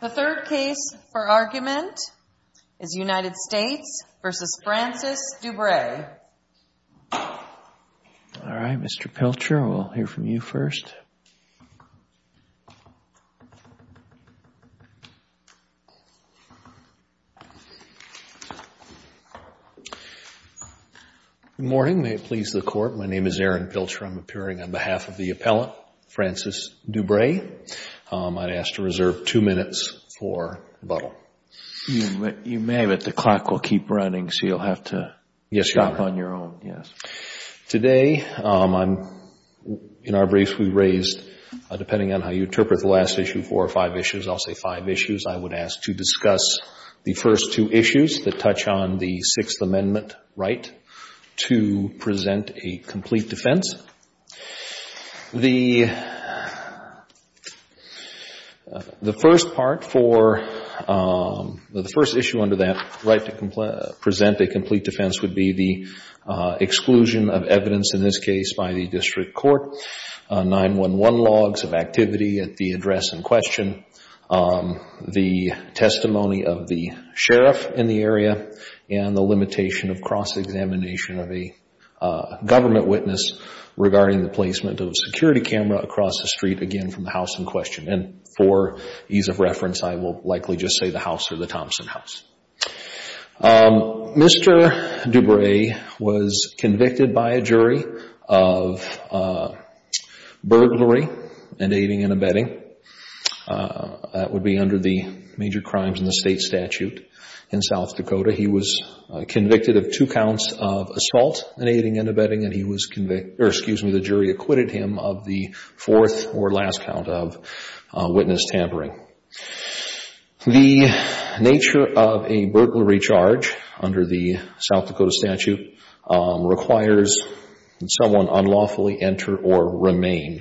The third case for argument is United States v. Francis Dubray. All right, Mr. Pilcher, we'll hear from you first. Good morning. May it please the Court, my name is Aaron Pilcher. I'm appearing on behalf of the appellant, Francis Dubray. I'd ask to reserve two minutes for rebuttal. You may, but the clock will keep running, so you'll have to stop on your own. Today, in our briefs we raised, depending on how you interpret the last issue, four or five issues, I'll say five issues, I would ask to discuss the first two issues that touch on the Sixth Amendment right to present a complete defense. The first part for, the first issue under that right to present a complete defense would be the exclusion of evidence, in this case, by the district court, 9-1-1 logs of activity at the address in question, the testimony of the sheriff in the area, and the limitation of cross-examination of a government witness regarding the placement of a security camera across the street, again, from the house in question. And for ease of reference, I will likely just say the house or the Thompson house. Mr. Dubray was convicted by a jury of burglary and aiding and abetting. That would be under the major crimes in the state statute in South Dakota. He was convicted of two counts of assault and aiding and abetting, and he was convicted, or excuse me, the jury acquitted him of the fourth or last count of witness tampering. The nature of a burglary charge under the South Dakota statute requires someone unlawfully enter or remain.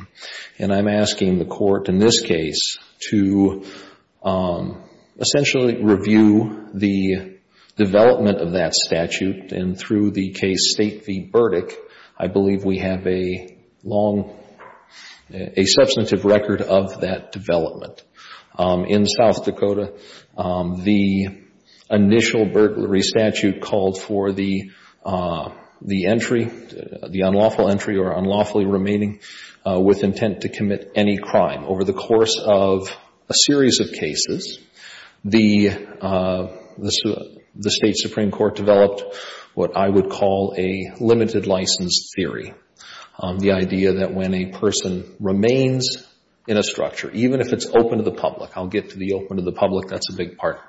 And I'm asking the court in this case to essentially review the development of that statute, and through the case State v. Burdick, I believe we have a long, a substantive record of that development. In South Dakota, the initial burglary statute called for the entry, the unlawful entry or unlawfully remaining, with intent to commit any crime. Over the course of a series of cases, the State Supreme Court developed what I would call a limited license theory, the idea that when a person remains in a structure, even if it's open to the public, I'll get to the open to the public, that's a big part.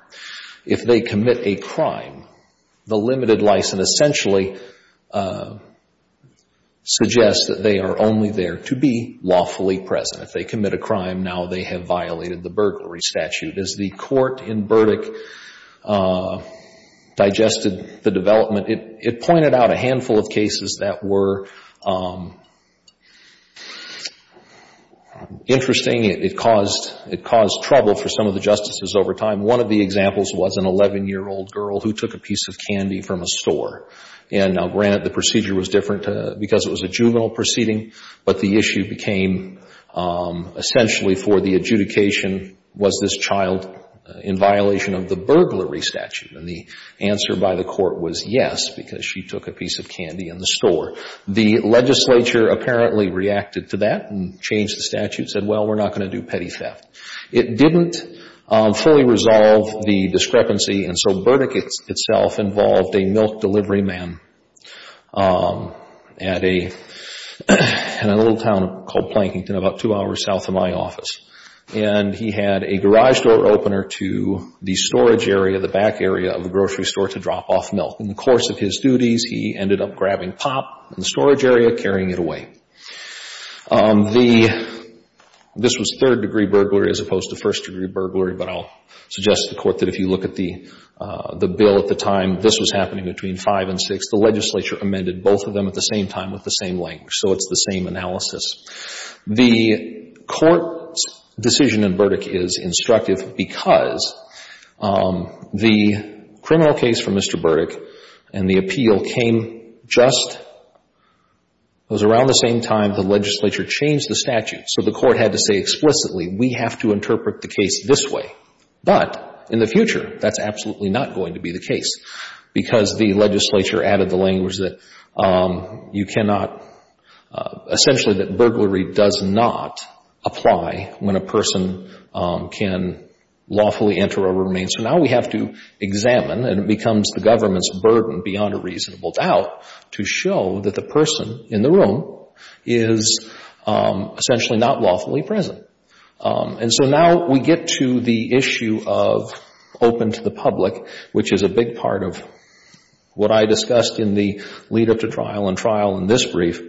If they commit a crime, the limited license essentially suggests that they are only there to be lawfully present. If they commit a crime, now they have violated the burglary statute. As the court in Burdick digested the development, it pointed out a handful of cases that were interesting. It caused trouble for some of the justices over time. One of the examples was an 11-year-old girl who took a piece of candy from a store. And granted, the procedure was different because it was a juvenile proceeding, but the issue became essentially for the adjudication, was this child in violation of the burglary statute? And the answer by the court was yes, because she took a piece of candy in the store. The legislature apparently reacted to that and changed the statute, said, well, we're not going to do petty theft. It didn't fully resolve the discrepancy. And so Burdick itself involved a milk delivery man at a little town called Plankington about two hours south of my office. And he had a garage door opener to the storage area, the back area of the grocery store, to drop off milk. In the course of his duties, he ended up grabbing pop in the storage area, carrying it away. This was third-degree burglary as opposed to first-degree burglary, but I'll suggest to the Court that if you look at the bill at the time, this was happening between 5 and 6. The legislature amended both of them at the same time with the same length, so it's the same analysis. The Court's decision in Burdick is instructive because the criminal case for Mr. Burdick and the appeal came just It was around the same time the legislature changed the statute. So the Court had to say explicitly, we have to interpret the case this way. But in the future, that's absolutely not going to be the case because the legislature added the language that you cannot essentially that burglary does not apply when a person can lawfully enter or remain. So now we have to examine, and it becomes the government's burden beyond a reasonable doubt, to show that the person in the room is essentially not lawfully present. And so now we get to the issue of open to the public, which is a big part of what I discussed in the lead-up to trial and trial in this brief.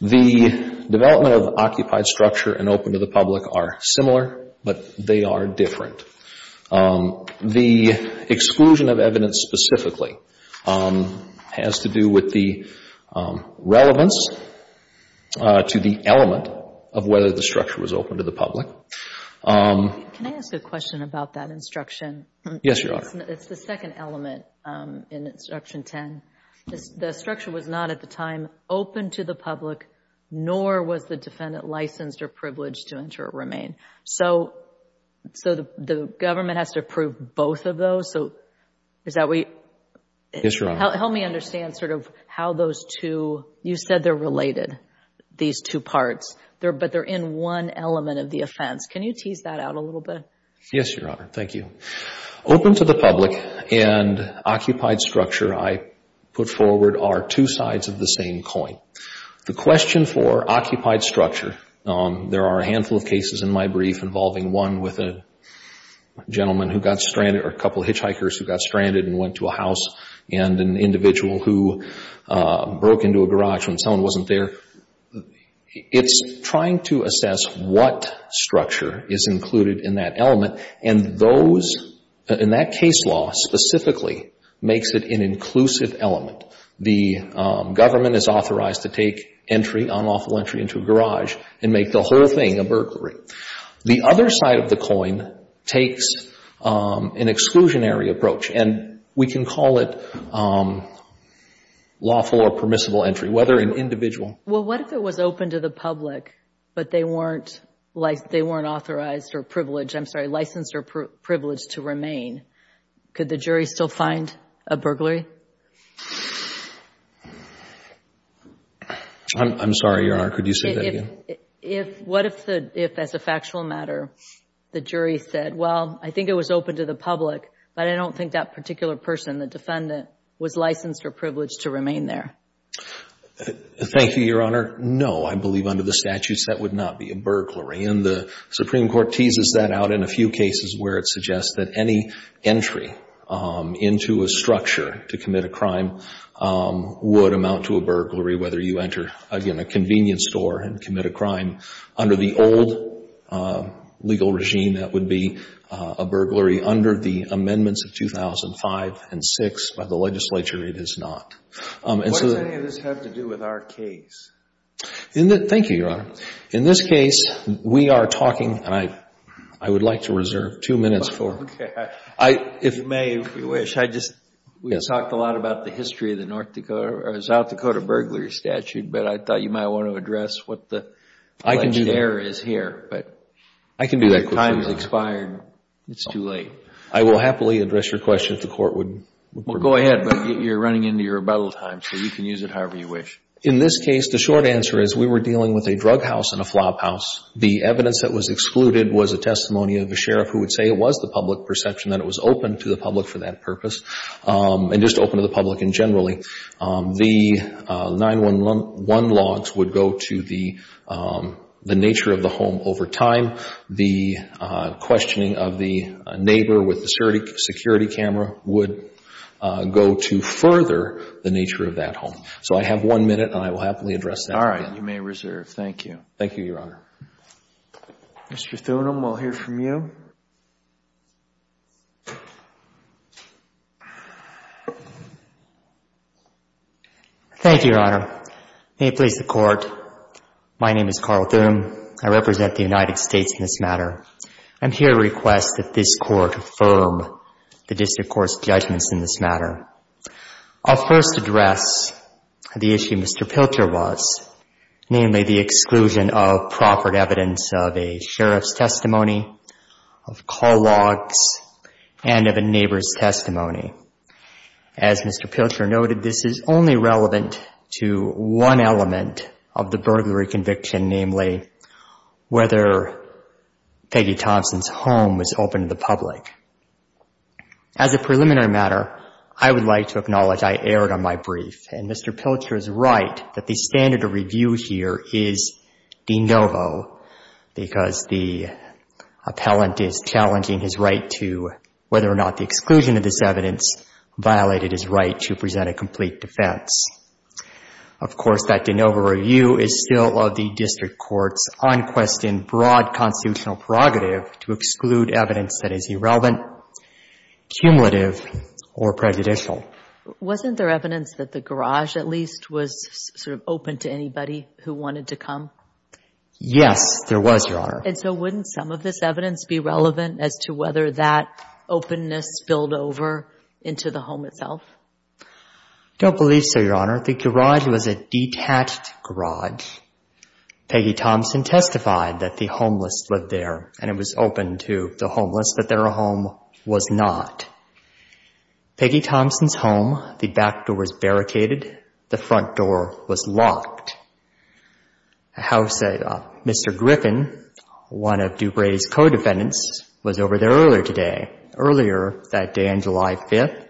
The development of occupied structure and open to the public are similar, but they are different. The exclusion of evidence specifically has to do with the relevance to the element of whether the structure was open to the public. Can I ask a question about that instruction? Yes, Your Honor. It's the second element in Instruction 10. The structure was not at the time open to the public, nor was the defendant licensed or privileged to enter or remain. So the government has to approve both of those? So is that we — Help me understand sort of how those two — you said they're related, these two parts. But they're in one element of the offense. Can you tease that out a little bit? Yes, Your Honor. Thank you. Open to the public and occupied structure, I put forward, are two sides of the same coin. The question for occupied structure, there are a handful of cases in my brief involving one with a gentleman who got stranded or a couple of hitchhikers who got stranded and went to a house and an individual who broke into a garage when someone wasn't there. It's trying to assess what structure is included in that element, and those — and that case law specifically makes it an inclusive element. The government is authorized to take entry, unlawful entry, into a garage and make the whole thing a burglary. The other side of the coin takes an exclusionary approach, and we can call it lawful or permissible entry, whether an individual — Well, what if it was open to the public, but they weren't authorized or privileged — I'm sorry, licensed or privileged to remain? Could the jury still find a burglary? I'm sorry, Your Honor. Could you say that again? What if, as a factual matter, the jury said, well, I think it was open to the public, but I don't think that particular person, the defendant, was licensed or privileged to remain there? Thank you, Your Honor. No, I believe under the statutes that would not be a burglary. And the Supreme Court teases that out in a few cases where it suggests that any entry into a structure to commit a crime would amount to a burglary, whether you enter, again, a convenience store and commit a crime. Under the old legal regime, that would be a burglary. Under the amendments of 2005 and 2006 by the legislature, it is not. What does any of this have to do with our case? Thank you, Your Honor. In this case, we are talking — and I would like to reserve two minutes for — If you may, if you wish, I just — Yes. We talked a lot about the history of the North Dakota or South Dakota burglary statute, but I thought you might want to address what the alleged error is here. I can do that quickly. But the time has expired. It's too late. I will happily address your question if the Court would — Well, go ahead. But you're running into your rebuttal time, so you can use it however you wish. In this case, the short answer is we were dealing with a drug house and a flophouse. The evidence that was excluded was a testimony of a sheriff who would say it was the public perception that it was open to the public for that purpose and just open to the public in general. The 911 logs would go to the nature of the home over time. The questioning of the neighbor with the security camera would go to further the nature of that home. So I have one minute, and I will happily address that. All right. You may reserve. Thank you. Thank you, Your Honor. Mr. Thunem, we'll hear from you. Thank you, Your Honor. May it please the Court. My name is Carl Thunem. I represent the United States in this matter. I'm here to request that this Court affirm the district court's judgments in this matter. I'll first address the issue Mr. Pilcher was, namely the exclusion of proffered evidence of a sheriff's testimony, of call logs, and of a neighbor's testimony. As Mr. Pilcher noted, this is only relevant to one element of the burglary conviction, namely whether Peggy Thompson's home was open to the public. As a preliminary matter, I would like to acknowledge I erred on my brief, and Mr. Pilcher is right that the standard of review here is de novo, because the appellant is challenging his right to, whether or not the exclusion of this evidence violated his right to present a complete defense. Of course, that de novo review is still of the district court's unquestioned broad constitutional prerogative to exclude evidence that is irrelevant, cumulative, or prejudicial. Wasn't there evidence that the garage, at least, was sort of open to anybody who wanted to come? Yes, there was, Your Honor. And so wouldn't some of this evidence be relevant as to whether that openness spilled over into the home itself? I don't believe so, Your Honor. The garage was a detached garage. Peggy Thompson testified that the homeless lived there, and it was open to the homeless that their home was not. Peggy Thompson's home, the back door was barricaded, the front door was locked. Mr. Griffin, one of Dupre's co-defendants, was over there earlier today, earlier that day on July 5th.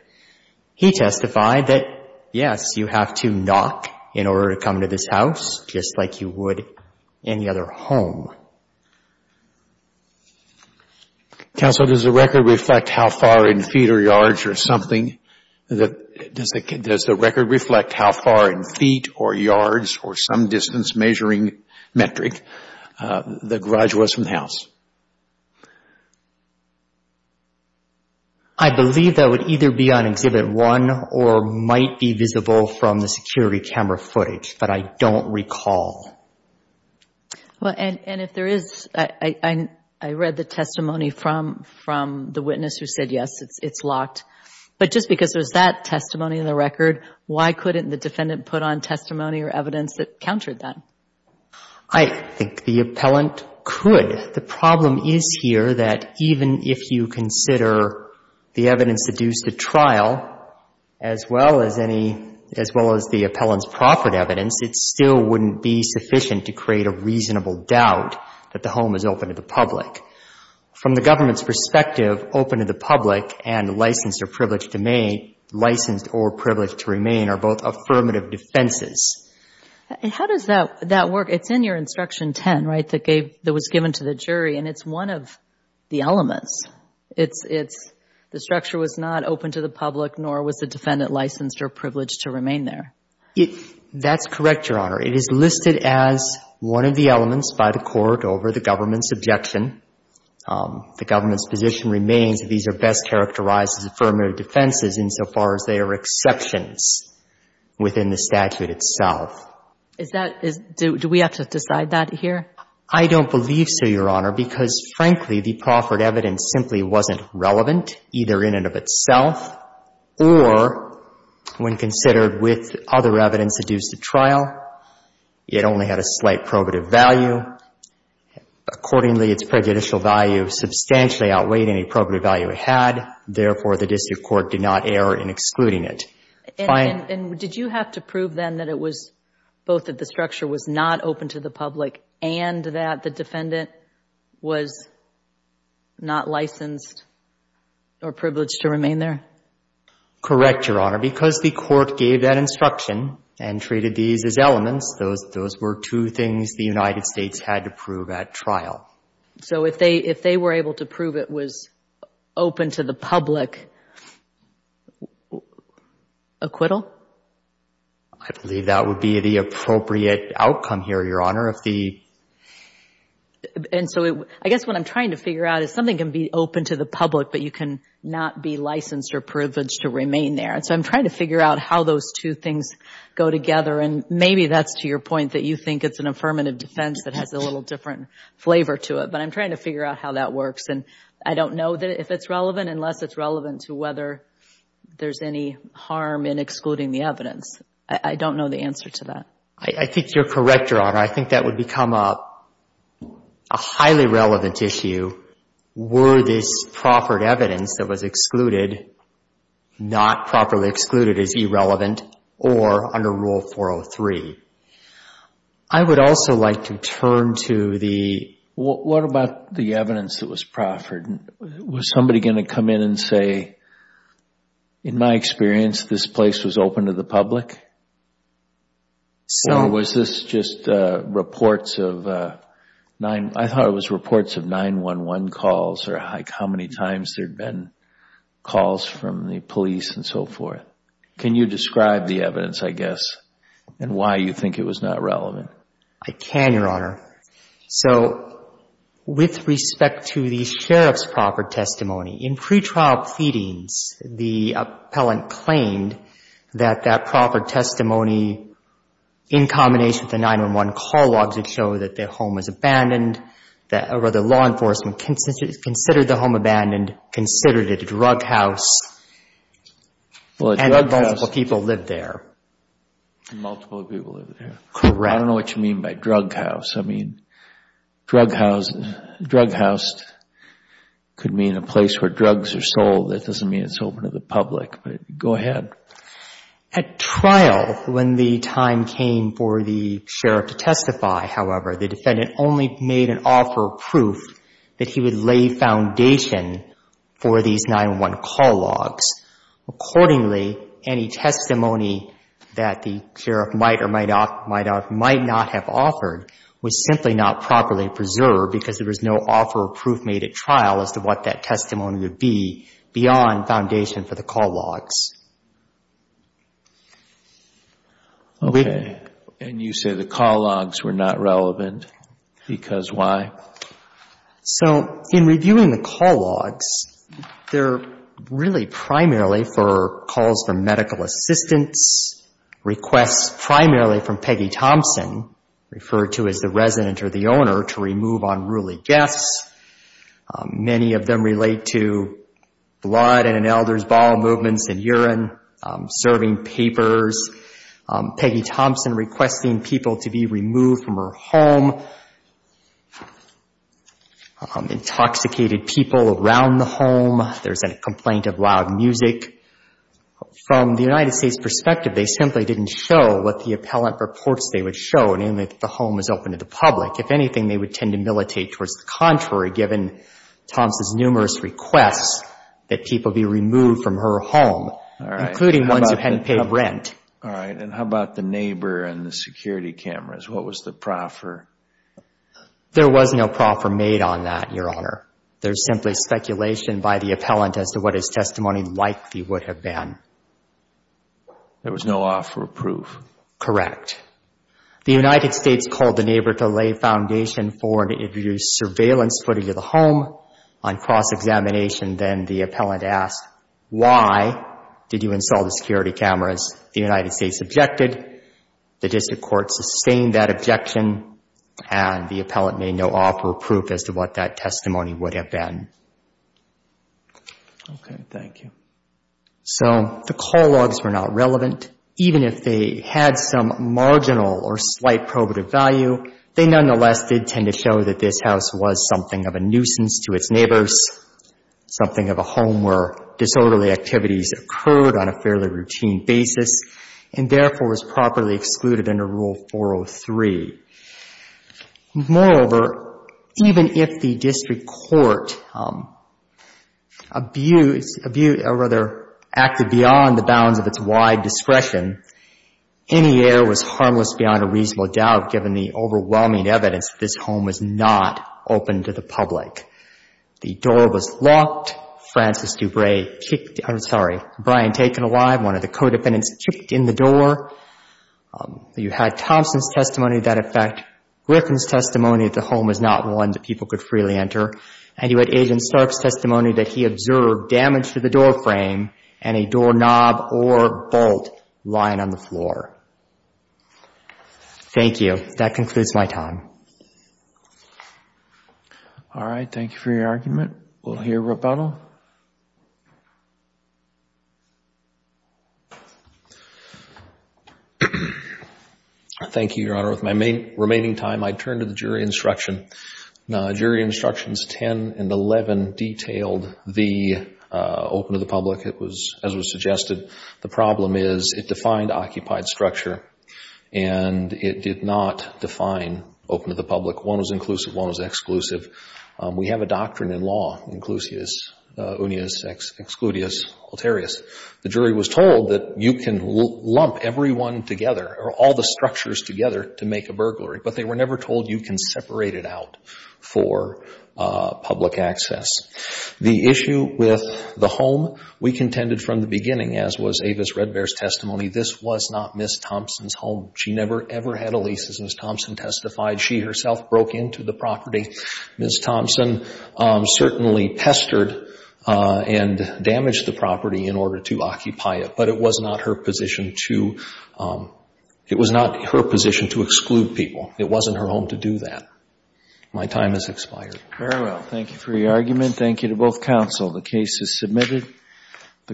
He testified that, yes, you have to knock in order to come to this house, just like you would any other home. Counsel, does the record reflect how far in feet or yards or something? Does the record reflect how far in feet or yards or some distance measuring metric the garage was from the house? I believe that would either be on Exhibit 1 or might be visible from the security camera footage, but I don't recall. Well, and if there is, I read the testimony from the witness who said, yes, it's locked. But just because there's that testimony in the record, why couldn't the defendant put on testimony or evidence that countered that? I think the appellant could. The problem is here that even if you consider the evidence seduced at trial, as well as any — as well as the appellant's proffered evidence, it still wouldn't be sufficient to create a reasonable doubt that the home is open to the public. From the government's perspective, open to the public and licensed or privileged to remain are both affirmative defenses. How does that work? It's in your Instruction 10, right, that was given to the jury, and it's one of the elements. It's the structure was not open to the public, nor was the defendant licensed or privileged to remain there. That's correct, Your Honor. It is listed as one of the elements by the court over the government's objection. The government's position remains that these are best characterized as affirmative defenses insofar as they are exceptions within the statute itself. Is that — do we have to decide that here? I don't believe so, Your Honor, because, frankly, the proffered evidence simply wasn't relevant, either in and of itself or, when considered with other evidence seduced at trial, it only had a slight probative value. Accordingly, its prejudicial value substantially outweighed any probative value it had. Therefore, the district court did not err in excluding it. And did you have to prove then that it was — both that the structure was not open to the public and that the defendant was not licensed or privileged to remain there? Correct, Your Honor. Because the court gave that instruction and treated these as elements, those were two things the United States had to prove at trial. So if they were able to prove it was open to the public, acquittal? I believe that would be the appropriate outcome here, Your Honor. And so I guess what I'm trying to figure out is something can be open to the public, but you cannot be licensed or privileged to remain there. And so I'm trying to figure out how those two things go together. And maybe that's to your point that you think it's an affirmative defense that has a little different flavor to it. But I'm trying to figure out how that works. And I don't know if it's relevant unless it's relevant to whether there's any harm in excluding the evidence. I don't know the answer to that. I think you're correct, Your Honor. I think that would become a highly relevant issue were this proffered evidence that was excluded not properly excluded as irrelevant or under Rule 403. I would also like to turn to the – what about the evidence that was proffered? Was somebody going to come in and say, in my experience, this place was open to the public? Or was this just reports of – I thought it was reports of 911 calls or how many times there had been calls from the police and so forth. Can you describe the evidence, I guess, and why you think it was not relevant? I can, Your Honor. So with respect to the sheriff's proffered testimony, in pretrial feedings, the appellant claimed that that proffered testimony in combination with the 911 call logic would show that the home was abandoned, or the law enforcement considered the home abandoned, considered it a drug house, and multiple people lived there. Multiple people lived there. Correct. I don't know what you mean by drug house. I mean, drug house could mean a place where drugs are sold. That doesn't mean it's open to the public, but go ahead. At trial, when the time came for the sheriff to testify, however, the defendant only made an offer of proof that he would lay foundation for these 911 call logs. Accordingly, any testimony that the sheriff might or might not have offered was simply not properly preserved because there was no offer of proof made at trial as to what that testimony would be beyond foundation for the call logs. Okay. And you say the call logs were not relevant because why? So in reviewing the call logs, they're really primarily for calls for medical assistance, requests primarily from Peggy Thompson, referred to as the resident or the owner, to remove unruly guests. Many of them relate to blood in an elder's bowel movements and urine, serving papers. Peggy Thompson requesting people to be removed from her home. Intoxicated people around the home. There's a complaint of loud music. From the United States' perspective, they simply didn't show what the appellant reports they would show, namely that the home was open to the public. If anything, they would tend to militate towards the contrary, given Thompson's numerous requests that people be removed from her home, including ones who hadn't paid rent. All right. And how about the neighbor and the security cameras? What was the proffer? There was no proffer made on that, Your Honor. There's simply speculation by the appellant as to what his testimony likely would have been. There was no offer of proof. Correct. The United States called the neighbor to lay foundation for and introduce surveillance footage of the home. On cross-examination, then, the appellant asked, why did you install the security cameras? The United States objected. The district court sustained that objection, and the appellant made no offer of proof as to what that testimony would have been. Okay, thank you. So the call logs were not relevant. Even if they had some marginal or slight probative value, they nonetheless did tend to show that this house was something of a nuisance to its neighbors, something of a home where disorderly activities occurred on a fairly routine basis and therefore was properly excluded under Rule 403. Moreover, even if the district court abused, abused, or rather acted beyond the bounds of its wide discretion, any error was harmless beyond a reasonable doubt, given the overwhelming evidence that this home was not open to the public. The door was locked. Francis DuBray kicked, I'm sorry, Brian Taken alive. One of the co-defendants kicked in the door. You had Thompson's testimony to that effect. Griffin's testimony that the home was not one that people could freely enter. And you had Agent Stark's testimony that he observed damage to the door frame and a doorknob or bolt lying on the floor. Thank you. That concludes my time. All right. Thank you for your argument. We'll hear rebuttal. Thank you, Your Honor. With my remaining time, I turn to the jury instruction. Jury Instructions 10 and 11 detailed the open to the public. It was, as was suggested, the problem is it defined occupied structure and it did not define open to the public. One was inclusive. One was exclusive. We have a doctrine in law, inclusius, unius, excludius, ulterius. The jury was told that you can lump everyone together or all the structures together to make a burglary, but they were never told you can separate it out for public access. The issue with the home, we contended from the beginning, as was Avis Red Bear's testimony, this was not Ms. Thompson's home. She never, ever had a lease, as Ms. Thompson testified. She herself broke into the property. Ms. Thompson certainly pestered and damaged the property in order to occupy it, but it was not her position to exclude people. It wasn't her home to do that. My time has expired. Very well. Thank you for your argument. Thank you to both counsel. The case is submitted.